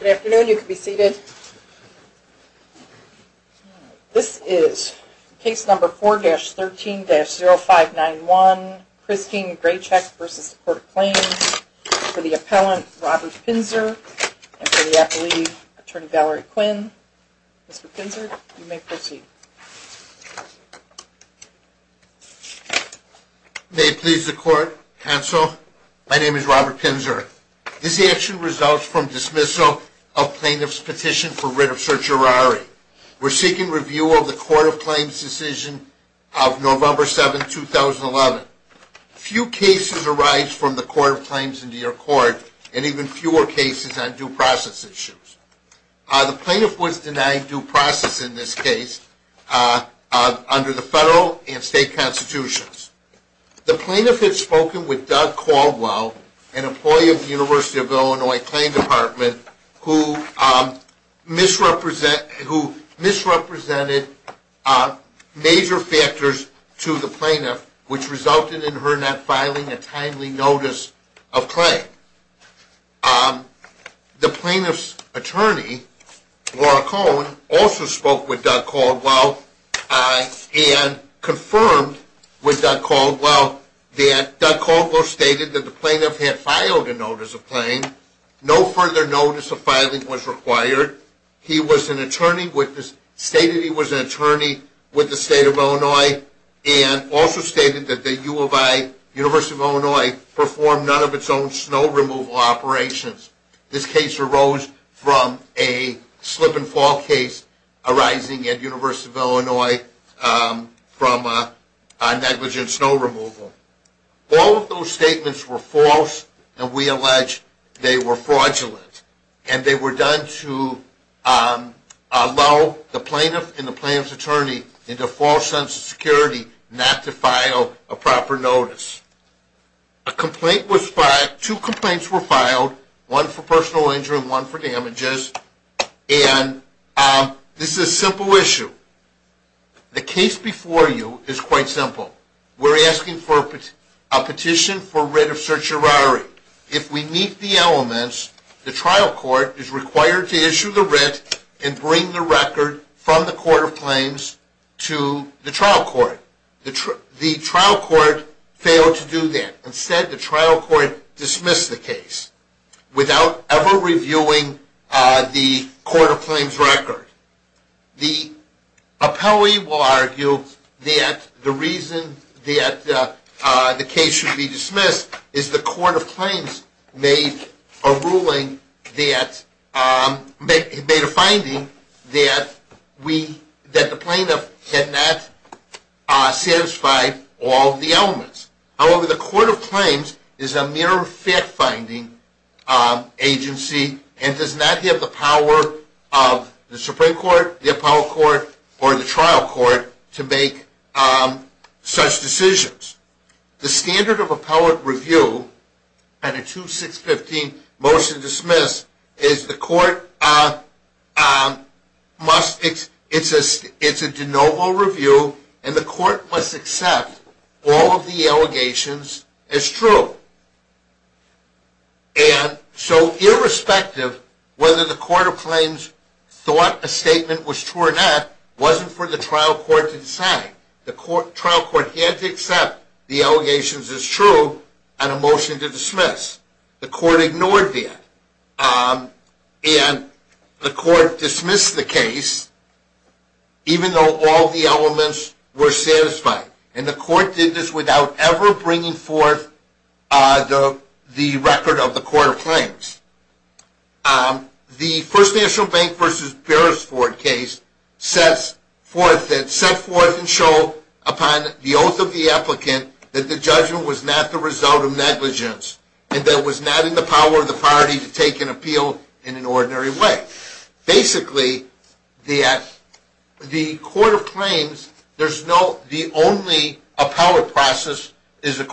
Good afternoon. You can be seated. This is Case No. 4-13-0591, Christine Gracheck v. Court of Claims, for the Appellant, Robert Pinzer, and for the Appellee, Attorney Valerie Quinn. Mr. Pinzer, you may proceed. May it please the Court, Counsel, my name is Robert Pinzer. This action results from dismissal of plaintiff's petition for writ of certiorari. We're seeking review of the Court of Claims decision of November 7, 2011. Few cases arise from the Court of Claims in New York Court, and even fewer cases on due process issues. The plaintiff was denied due process in this case under the federal and state constitutions. The plaintiff had spoken with Doug Caldwell, an employee of the University of Illinois Claim Department, who misrepresented major factors to the plaintiff, which resulted in her not filing a timely notice of claim. The plaintiff's attorney, Laura Cohen, also spoke with Doug Caldwell and confirmed with Doug Caldwell that the plaintiff had filed a notice of claim. No further notice of filing was required. He stated he was an attorney with the State of Illinois and also stated that the University of Illinois performed none of its own snow removal operations. This case arose from a slip-and-fall case arising at the University of Illinois from a negligent snow removal. All of those statements were false, and we allege they were fraudulent, and they were done to allow the plaintiff and the plaintiff's attorney into a false sense of security not to file a proper notice. A complaint was filed. Two complaints were filed, one for personal injury and one for damages, and this is a simple issue. The case before you is quite simple. We're asking for a petition for writ of certiorari. If we meet the elements, the trial court is required to issue the writ and bring the record from the Court of Claims to the trial court. The trial court failed to do that. Instead, the trial court dismissed the case without ever reviewing the Court of Claims record. The appellee will argue that the reason that the case should be dismissed is the Court of Claims made a ruling that made a finding that the plaintiff had not satisfied all of the elements. However, the Court of Claims is a mere fact-finding agency and does not have the power of the Supreme Court, the appellate court, or the trial court to make such decisions. The standard of appellate review on a 2-6-15 motion dismissed is the court must, it's a de novo review, and the court must accept all of the allegations as true. Irrespective of whether the Court of Claims thought a statement was true or not, it wasn't for the trial court to decide. The trial court had to accept the allegations as true on a motion to dismiss. The court ignored that. The court dismissed the case even though all of the elements were satisfied. The court did this without ever bringing forth the record of the Court of Claims. The First National Bank v. Beresford case set forth and showed upon the oath of the applicant that the judgment was not the result of negligence and that it was not in the power of the party to take an appeal in an ordinary way. Basically, the Court of Claims, the only appellate process is to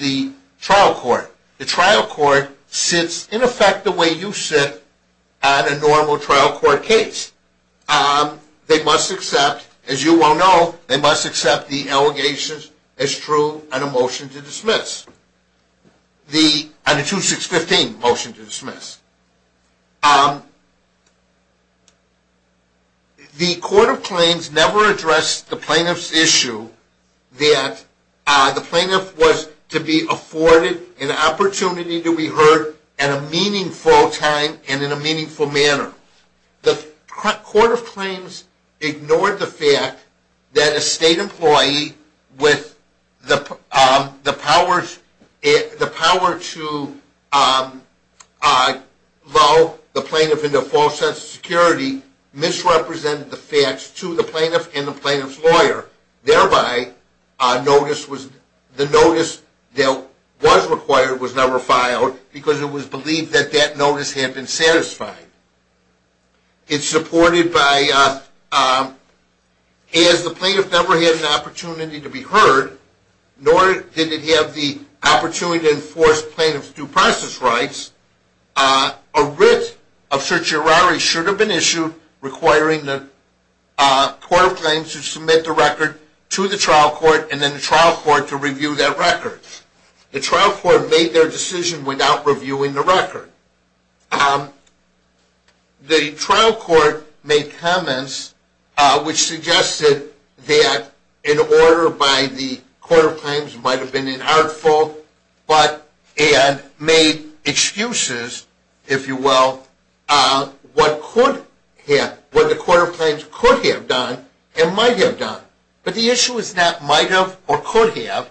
the trial court. The trial court sits in effect the way you sit on a normal trial court case. They must accept, as you well know, they must accept the allegations as true on a motion to dismiss, on a 2-6-15 motion to dismiss. The Court of Claims never addressed the plaintiff's issue that the plaintiff was to be afforded an opportunity to be heard at a meaningful time and in a meaningful manner. The Court of Claims ignored the fact that a state employee with the power to lull the plaintiff into false sense of security misrepresented the facts to the plaintiff and the plaintiff's lawyer. Thereby, the notice that was required was never filed because it was believed that that notice had been satisfied. It's supported by as the plaintiff never had an opportunity to be heard, nor did it have the a writ of certiorari should have been issued requiring the Court of Claims to submit the record to the trial court and then the trial court to review that record. The trial court made their decision without reviewing the record. The trial court made comments which suggested that an order by the Court of Claims might have been inartful and made excuses, if you will, what the Court of Claims could have done and might have done. But the issue is not might have or could have.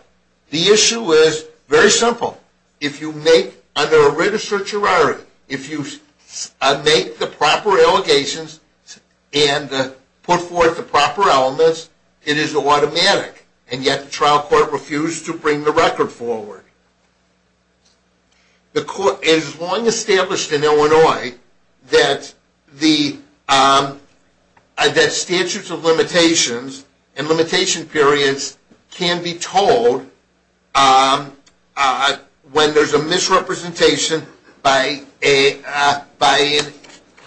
The issue is very simple. If you make under a writ of certiorari the proper allegations and put forth the proper elements, it is automatic. And yet the trial court refused to bring the record forward. It is long established in Illinois that statutes of limitations and limitation periods can be told when there is a misrepresentation by an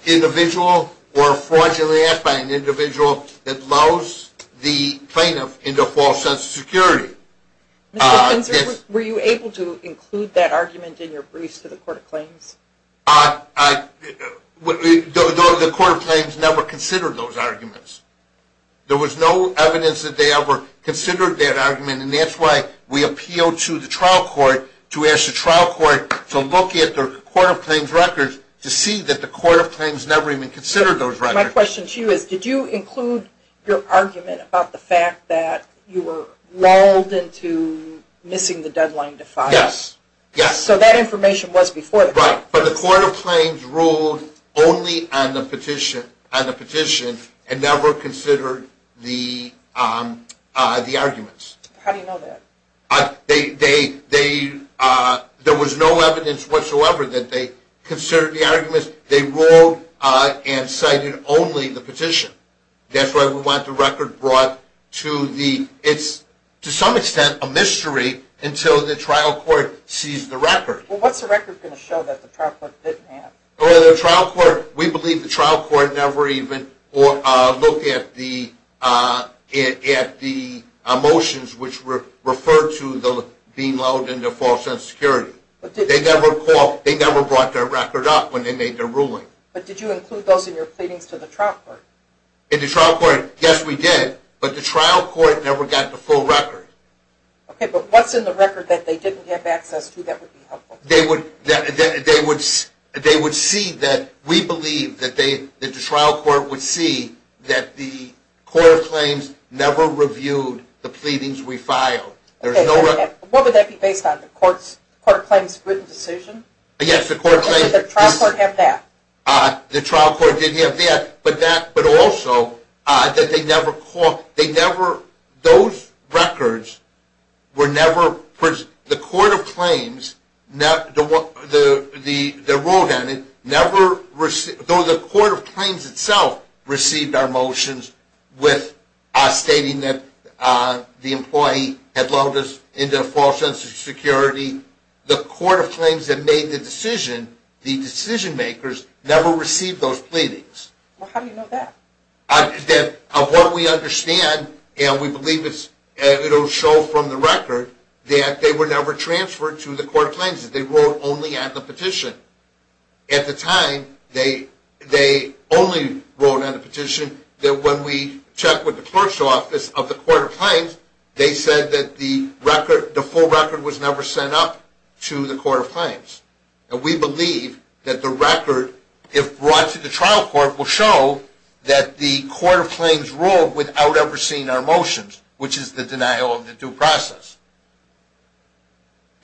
individual or a fraudulent act by an individual that allows the plaintiff into a false sense of security. Were you able to include that argument in your briefs to the Court of Claims? The Court of Claims never considered those arguments. There was no evidence that they ever considered that argument and that is why we appealed to the trial court to ask the trial court to look at the Court of Claims records to see that the Court of Claims never even considered those records. My question to you is, did you include your argument about the fact that you were lulled into missing the deadline to file? So that information was before the claim. Right, but the Court of Claims ruled only on the petition and never considered the arguments. How do you know that? There was no evidence whatsoever that they considered the arguments. They ruled and cited only the petition. That's why we want the record brought to the... It's to some extent a mystery until the trial court sees the record. What's the record going to show that the trial court didn't have? We believe the trial court never even looked at the motions which were referred to as being lulled into false sense of security. They never brought their record up when they made their ruling. But did you include those in your pleadings to the trial court? In the trial court, yes we did. But the trial court never got the full record. Okay, but what's in the record that they didn't have access to that would be helpful? They would see that we believe that the trial court would see that the Court of Claims never reviewed the pleadings we filed. What would that be based on? The Court of Claims written decision? Yes, the Court of Claims... And did the trial court have that? The trial court did have that, but also those records were never... The Court of Claims, though the Court of Claims itself received our motions stating that the employee had lulled us into false sense of security, the Court of Claims that made the decision, the decision makers, never received those pleadings. Well, how do you know that? Of what we understand, and we believe it will show from the record, that they were never transferred to the Court of Claims. They were only at the petition. At the time, they only wrote on the petition that when we checked with the clerk's office of the Court of Claims, they said that the full record was never sent up to the Court of Claims. And we believe that the record, if brought to the trial court, will show that the Court of Claims ruled without ever seeing our motions, which is the denial of the due process.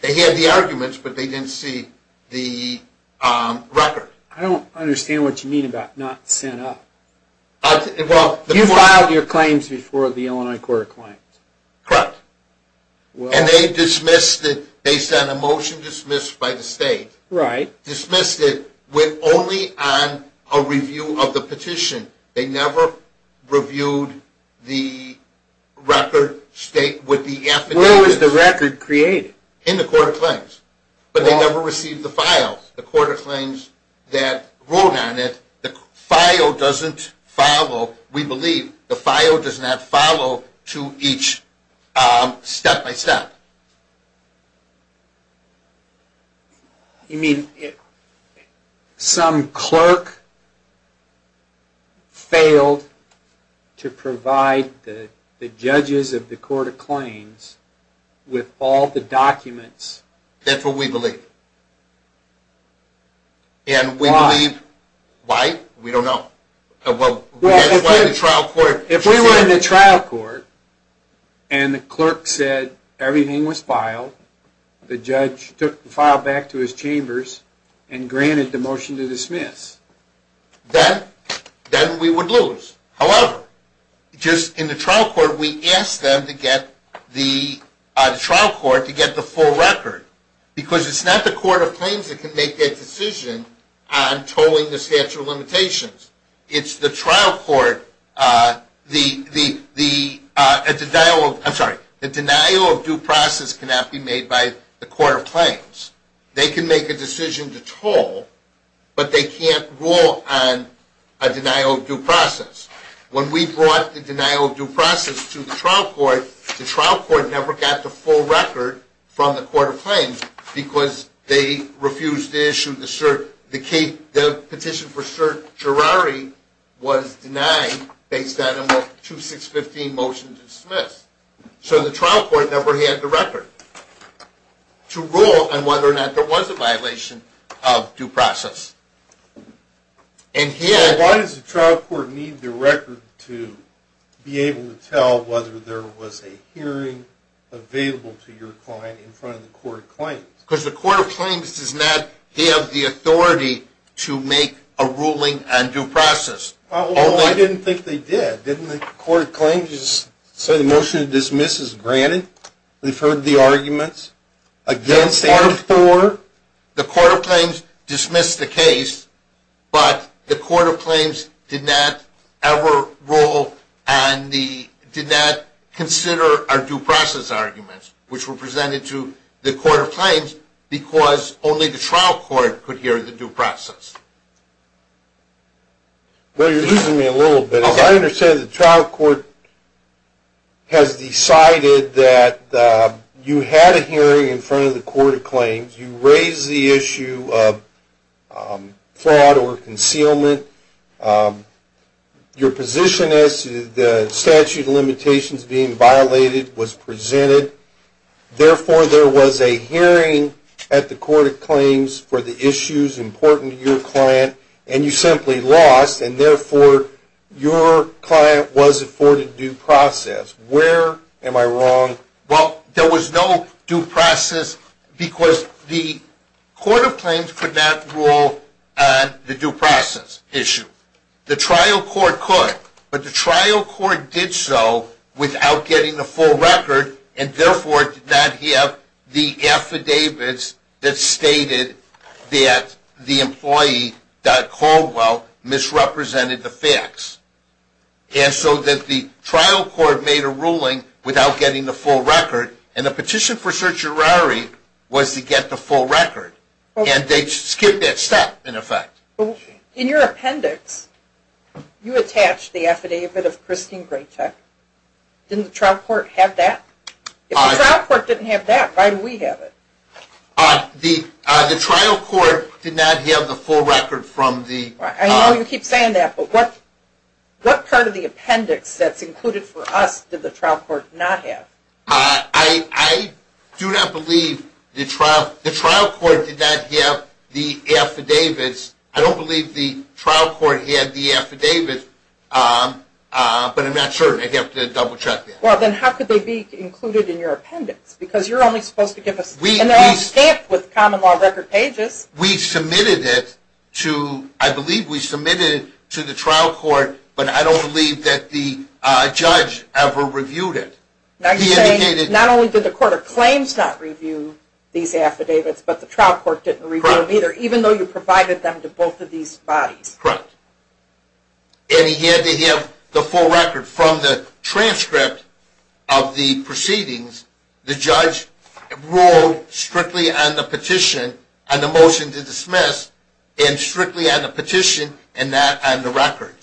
They had the arguments, but they didn't see the record. I don't understand what you mean about not sent up. You filed your claims before the Illinois Court of Claims. Correct. And they dismissed it based on a motion dismissed by the state. Right. Dismissed it only on a review of the petition. They never reviewed the record with the affidavit. Where was the record created? In the Court of Claims. But they never received the file. The Court of Claims that wrote on it, the file does not follow, we believe, to each step-by-step. You mean some clerk failed to provide the judges of the Court of Claims with all the documents? That's what we believe. Why? We don't know. If we were in the trial court and the clerk said everything was filed, and granted the motion to dismiss, then we would lose. However, in the trial court, we asked them to get the full record because it's not the Court of Claims that can make that decision on tolling the statute of limitations. It's the trial court. The denial of due process cannot be made by the Court of Claims. They can make a decision to toll, but they can't rule on a denial of due process. When we brought the denial of due process to the trial court, the trial court never got the full record from the Court of Claims because they refused to issue the cert. The petition for certiorari was denied based on a 2615 motion to dismiss. So the trial court never had the record to rule on whether or not there was a violation of due process. Why does the trial court need the record to be able to tell whether there was a hearing available to your client in front of the Court of Claims? Because the Court of Claims does not have the authority to make a ruling on due process. I didn't think they did. Didn't the Court of Claims say the motion to dismiss is granted? We've heard the arguments. The Court of Claims dismissed the case, but the Court of Claims did not ever rule and did not consider our due process arguments, which were presented to the Court of Claims because only the trial court could hear the due process. Well, you're easing me a little bit. I understand the trial court has decided that you had a hearing in front of the Court of Claims. You raised the issue of fraud or concealment. Your position as to the statute of limitations being violated was presented. Therefore, there was a hearing at the Court of Claims for the issues important to your client, and you simply lost, and therefore your client was afforded due process. Where am I wrong? Well, there was no due process because the Court of Claims could not rule on the due process issue. The trial court could, but the trial court did so without getting the full record and therefore did not have the affidavits that stated that the employee that Caldwell misrepresented the facts. And so that the trial court made a ruling without getting the full record and the petition for certiorari was to get the full record. And they skipped that step in effect. In your appendix you attached the affidavit of Christine Graycheck. Didn't the trial court have that? If the trial court didn't have that, why do we have it? The trial court did not have the full record from the... I know you keep saying that, but what part of the appendix that's included for us did the trial court not have? I do not believe the trial court did not have the affidavits. I don't believe the trial court had the affidavits, but I'm not sure. Well, then how could they be included in your appendix? Because you're only supposed to give us... And they're all stamped with common law record pages. We submitted it to, I believe we submitted it to the trial court, but I don't believe that the judge ever reviewed it. Not only did the court of claims not review these affidavits, but the trial court didn't review them either, even though you provided them to both of these bodies. That's correct. And he had to have the full record from the transcript of the proceedings. The judge ruled strictly on the petition, on the motion to dismiss, and strictly on the petition and not on the record.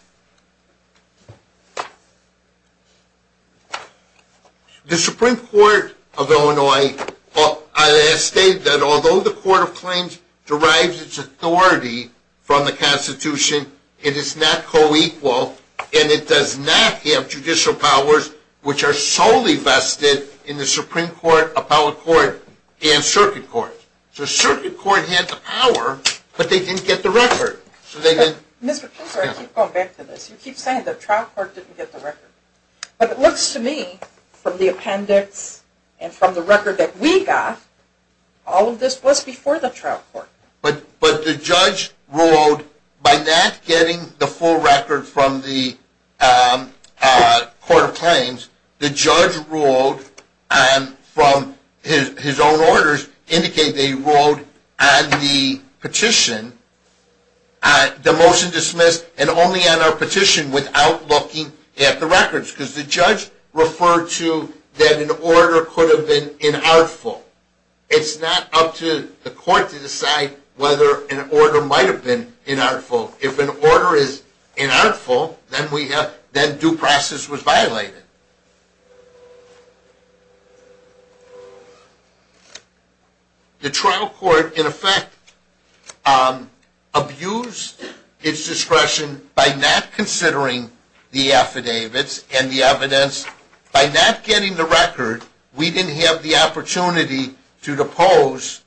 The Supreme Court of Illinois stated that although the court of claims derives its authority from the Constitution, it is not co-equal, and it does not have judicial powers which are solely vested in the Supreme Court, Appellate Court, and Circuit Court. So Circuit Court had the power, but they didn't get the record. I keep going back to this. You keep saying the trial court didn't get the record. But it looks to me from the appendix and from the record that we got, all of this was before the trial court. But the judge ruled by not getting the full record from the court of claims, the judge ruled from his own orders indicated that he ruled on the petition, the motion to dismiss, and only on our petition without looking at the records. Because the judge referred to that an order could have been inartful. It's not up to the court to decide whether an order might have been inartful. If an order is inartful, then due process was violated. The trial court, in effect, abused its discretion by not considering the affidavits and the record. We didn't have the opportunity to depose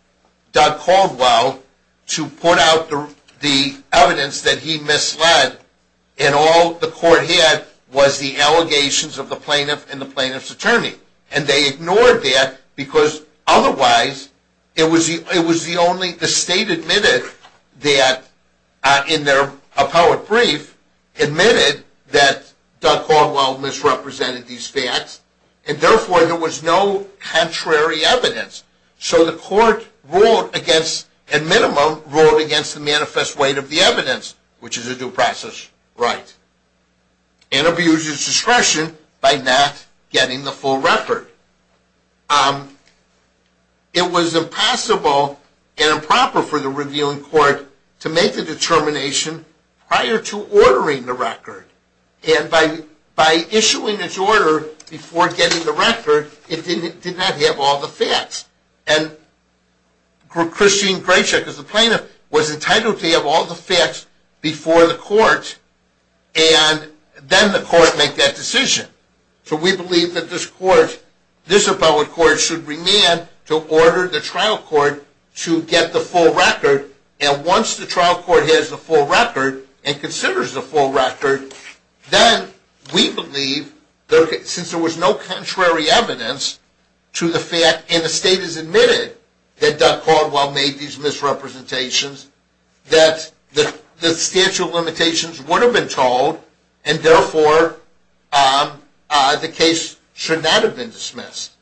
Doug Caldwell to put out the evidence that he misled and all the court had was the allegations of the plaintiff and the plaintiff's attorney. And they ignored that because otherwise it was the only, the state admitted that in their appellate brief, admitted that Doug Caldwell misrepresented these facts and therefore there was no contrary evidence. So the court ruled against, at minimum, ruled against the manifest weight of the evidence, which is a due process right. And abused its discretion by not getting the full record. It was impossible and improper for the reviewing court to make the determination prior to ordering the record. And by issuing its order before getting the record, it did not have all the facts. And Christine Graycheck as the plaintiff was entitled to have all the facts before the court and then the court make that decision. So we believe that this court, this appellate court should remand to order the trial court to get the full record and considers the full record. Then we believe, since there was no contrary evidence to the fact and the state has admitted that Doug Caldwell made these misrepresentations, that the statute of limitations would have been told and therefore the case should not have been dismissed.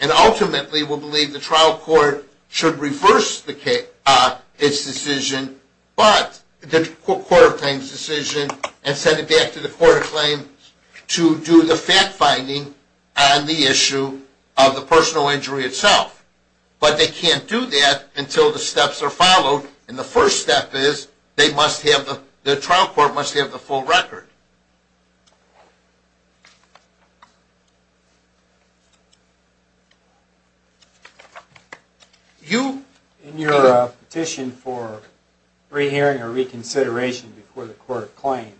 And ultimately we believe the trial court should reverse its decision, but the court of claims decision and send it back to the court of claims to do the fact finding on the issue of the personal injury itself. But they can't do that until the steps are followed. And the first step is the trial court must have the full record. In your petition for re-hearing or reconsideration before the court of claims,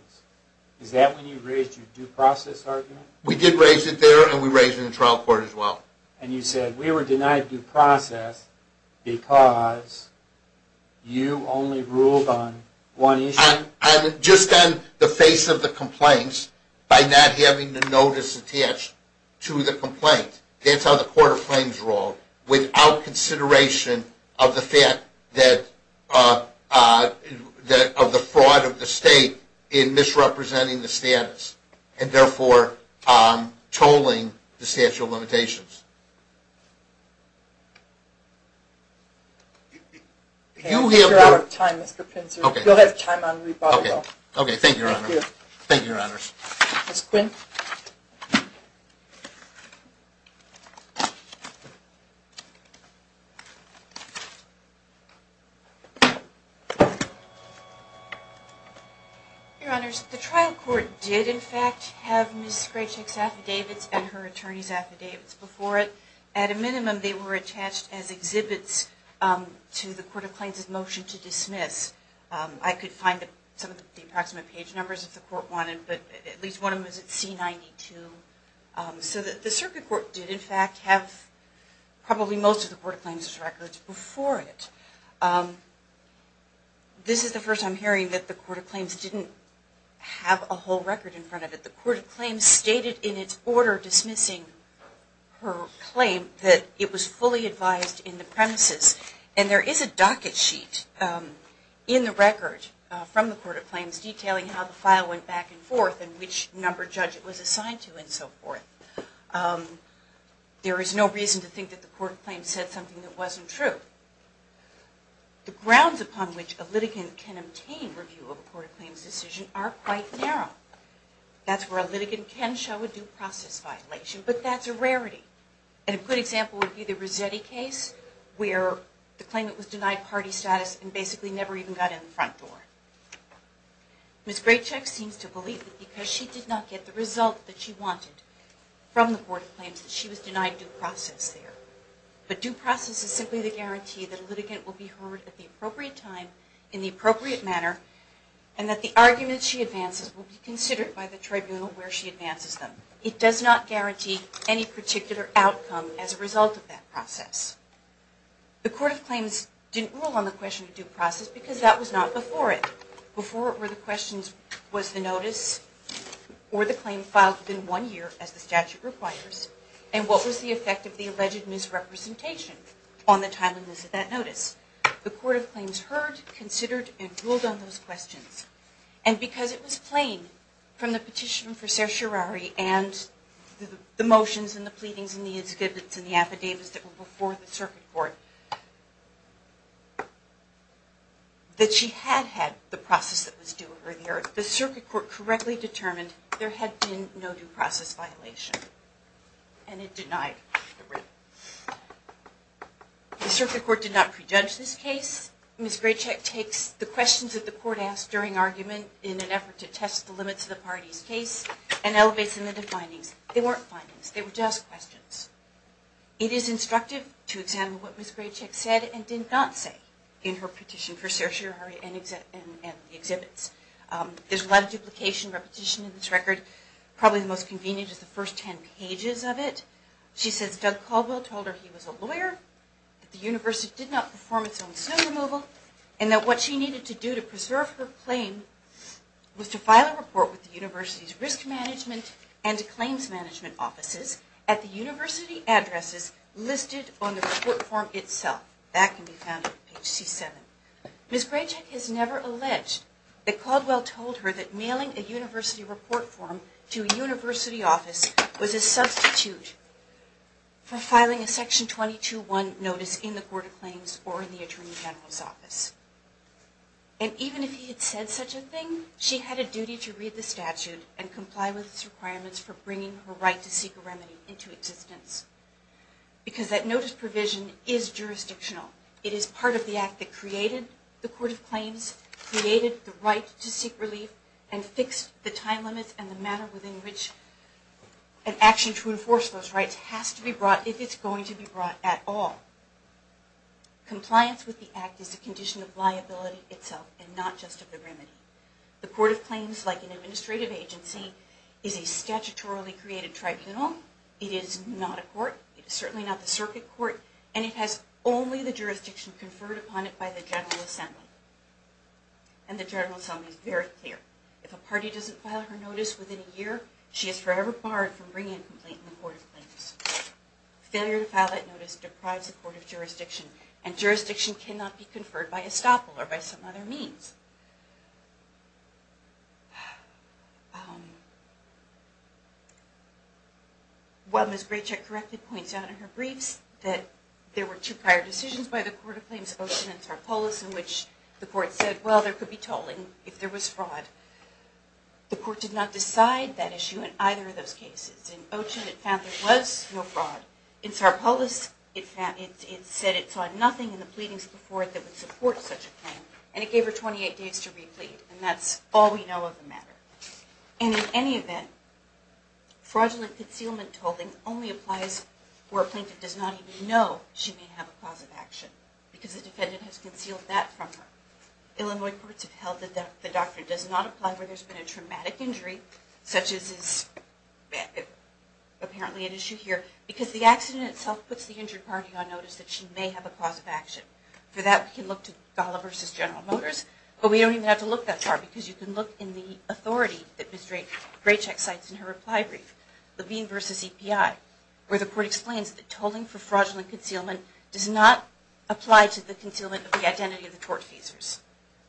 is that when you raised your due process argument? We did raise it there and we raised it in the trial court as well. And you said we were denied due process because you only ruled on one issue? I'm just on the face of the matter. And that's how the court of claims rules. You can't resolve the complaints by not having the notice attached to the complaint. That's how the court of claims rules without consideration of the fact that of the fraud of the state tolling the statute of limitations. Thank you, Your Honors. Your Honors, the trial court did in fact have Ms. Graycheck's affidavits and her attorney's affidavits before it. At a minimum, they were attached as exhibits to the court of claims' motion to dismiss. I could find some of the approximate page numbers if the court wanted, but at least one of them was at C-92. So the circuit court did in fact have probably most of the court of claims' records before it. This is the first I'm hearing that the court of claims didn't have a whole record in front of it. The court of claims stated in its order dismissing her claim that it was fully advised in the premises. And there is a docket sheet in the record from the court of claims detailing how the file went back and forth and which number judge it was assigned to and so forth. There is no reason to think that the court of claims said something that wasn't true. The grounds upon which a litigant can obtain review of a court of claims decision are quite narrow. That's where a litigant can show a due process violation, but that's a rarity. A good example would be the Rossetti case where the claimant was denied party status and basically never even got in the front door. Ms. Graycheck seems to believe that because she did not get the result that she wanted from the court of claims that she was denied due process there. But due process is simply the guarantee that a litigant will be heard at the appropriate time in the appropriate manner and that the argument she advances will be considered by the tribunal where she advances them. It does not guarantee any particular outcome as a result of that process. The court of claims didn't rule on the question of due process because that was not before it. Before it were the questions was the notice or the claim filed within one year as the statute requires and what was the effect of the alleged misrepresentation on the timeliness of that notice. The court of claims heard, considered, and ruled on those questions. And because it was plain from the petition for certiorari and the motions and the pleadings and the affidavits and the affidavits that were before the circuit court that she had had the process that was due earlier, the circuit court correctly determined there had been no due process violation and it denied the writ. The circuit court did not pre-judge this case. Ms. Graycheck takes the questions that the court asked during argument in an effort to test the parties case and elevates them into findings. They weren't findings, they were just questions. It is instructive to examine what Ms. Graycheck said and did not say in her petition for certiorari and the exhibits. There's a lot of duplication, repetition in this record. Probably the most convenient is the first 10 pages of it. She says Doug Caldwell told her he was a lawyer, that the university did not perform its own snow removal, and that what she needed to do to preserve her claim was to file a report with the university's risk management and claims management offices at the university addresses listed on the report form itself. That can be found on page C7. Ms. Graycheck has never alleged that Caldwell told her that mailing a university report form to a university office was a substitute for filing a section 22-1 notice in the court of claims or in the attorney general's office. And even if he had said such a thing, she had a duty to read the statute and comply with its requirements for bringing her right to seek a remedy into existence. Because that notice provision is jurisdictional. It is part of the act that created the court of claims, created the right to seek relief, and fixed the time limits and the manner within which an action to enforce those rights has to be brought, if it's going to be brought at all. Compliance with the act is a condition of liability itself and not just of the remedy. The court of claims, like an administrative agency, is a statutorily created tribunal. It is not a court. It is certainly not the circuit court. And it has only the jurisdiction conferred upon it by the General Assembly. And the General Assembly is very clear. If a party doesn't file her notice within a year, she is forever barred from bringing a complaint in the court of claims. Failure to file that notice deprives the court of jurisdiction. And jurisdiction cannot be conferred by estoppel or by some other means. While Ms. Graycheck correctly points out in her briefs that there were two prior decisions by the court of claims, Ochen and Tarpolis, in which the court said, well, there could be tolling if there was fraud. The court did not decide that issue in either of those cases. In Ochen, it found there was no fraud. In Tarpolis, it said it saw nothing in the pleadings before it that would support such a claim. And it gave her 28 days to replete. And that's all we know of the matter. And in any event, fraudulent concealment tolling only applies where a plaintiff does not even know she may have a cause of action. Because the defendant has concealed that from her. Illinois courts have held that the plaintiff has been a traumatic injury, such as apparently an issue here, because the accident itself puts the injured party on notice that she may have a cause of action. For that, we can look to Gala v. General Motors, but we don't even have to look that far, because you can look in the authority that Ms. Graycheck cites in her reply brief, Levine v. EPI, where the court explains that tolling for fraudulent concealment does not apply to the concealment of the identity of the tort feasors,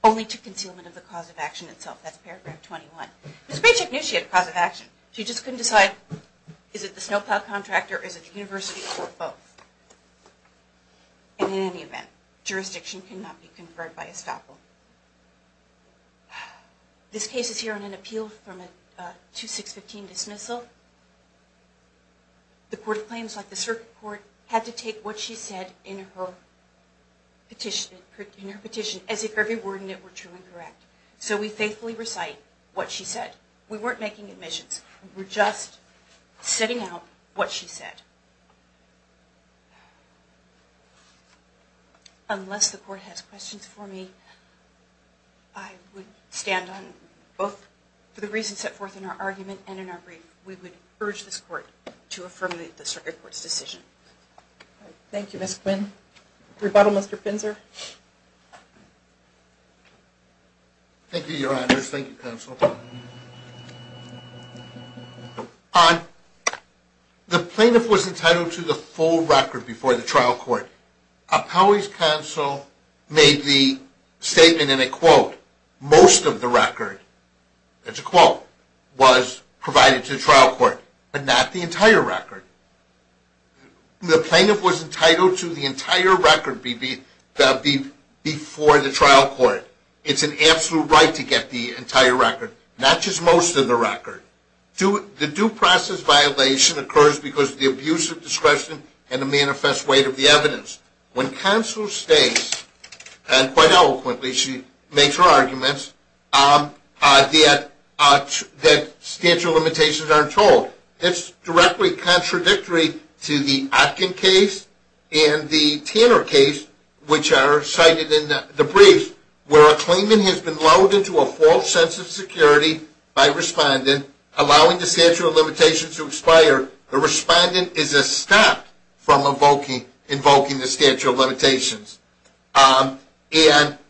only to concealment of the cause of action itself. That's paragraph 21. Ms. Graycheck knew she had a cause of action. She just couldn't decide, is it the snowplow contractor, or is it the university, or both. And in any event, jurisdiction cannot be conferred by estoppel. This case is here on an appeal from a 2615 dismissal. The court of claims, like the circuit court, had to take what she said in her petition as if every word in it were true and correct. So we faithfully recite what she said. We weren't making admissions. We were just setting out what she said. Unless the court has questions for me, I would stand on both for the reasons set forth in our argument and in our brief. We would urge this court to affirm the circuit court's decision. Thank you, Ms. Quinn. Rebuttal, Mr. Finzer. Thank you, Your Honors. Thank you, Counsel. The plaintiff was entitled to the full record before the trial court. Appellee's counsel made the statement in a quote, most of the record, that's a quote, was provided to the trial court, but not the entire record. The plaintiff was entitled to the entire record before the trial court. It's an absolute right to get the entire record, not just most of the record. The due process violation occurs because of the abuse of discretion and the manifest weight of the evidence. When counsel states, and quite eloquently, she makes her arguments, that statute of limitations aren't told, it's directly contradictory to the Atkin case and the Tanner case, which are cited in the brief, where a claimant has been lulled into a false sense of security by a respondent, allowing the statute of limitations to expire. The respondent is stopped from invoking the statute of limitations. And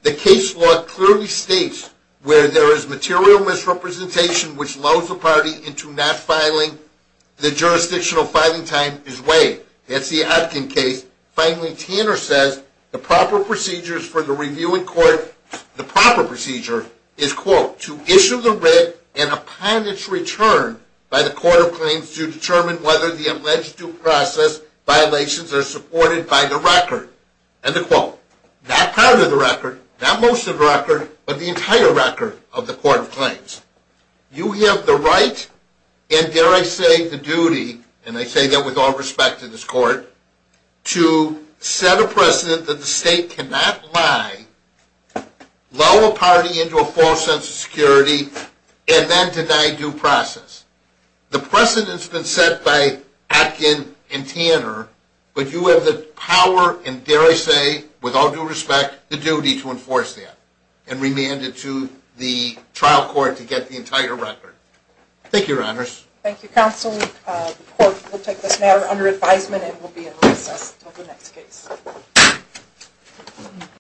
the case law clearly states where there is material misrepresentation which lulls the party into not filing. The jurisdictional filing time is waived. That's the Atkin case. Finally, Tanner says the proper procedure for the review in court is quote, to issue the writ and upon its return by the court of claims to determine whether the alleged due process violations are supported by the record. Not part of the record, not most of the record, but the entire record of the court of claims. You have the right, and dare I say the duty, and I say that with all respect to this court, to set a precedent that the state cannot lie, lull a party into a false sense of security, and then deny due process. The precedent's been set by Atkin and Tanner, but you have the power, and dare I say, with all due respect, the duty to enforce that. And remand it to the trial court to get the entire record. Thank you, Your Honors. Thank you, Counsel. The court will take this matter under advisement and will be in recess until the next case.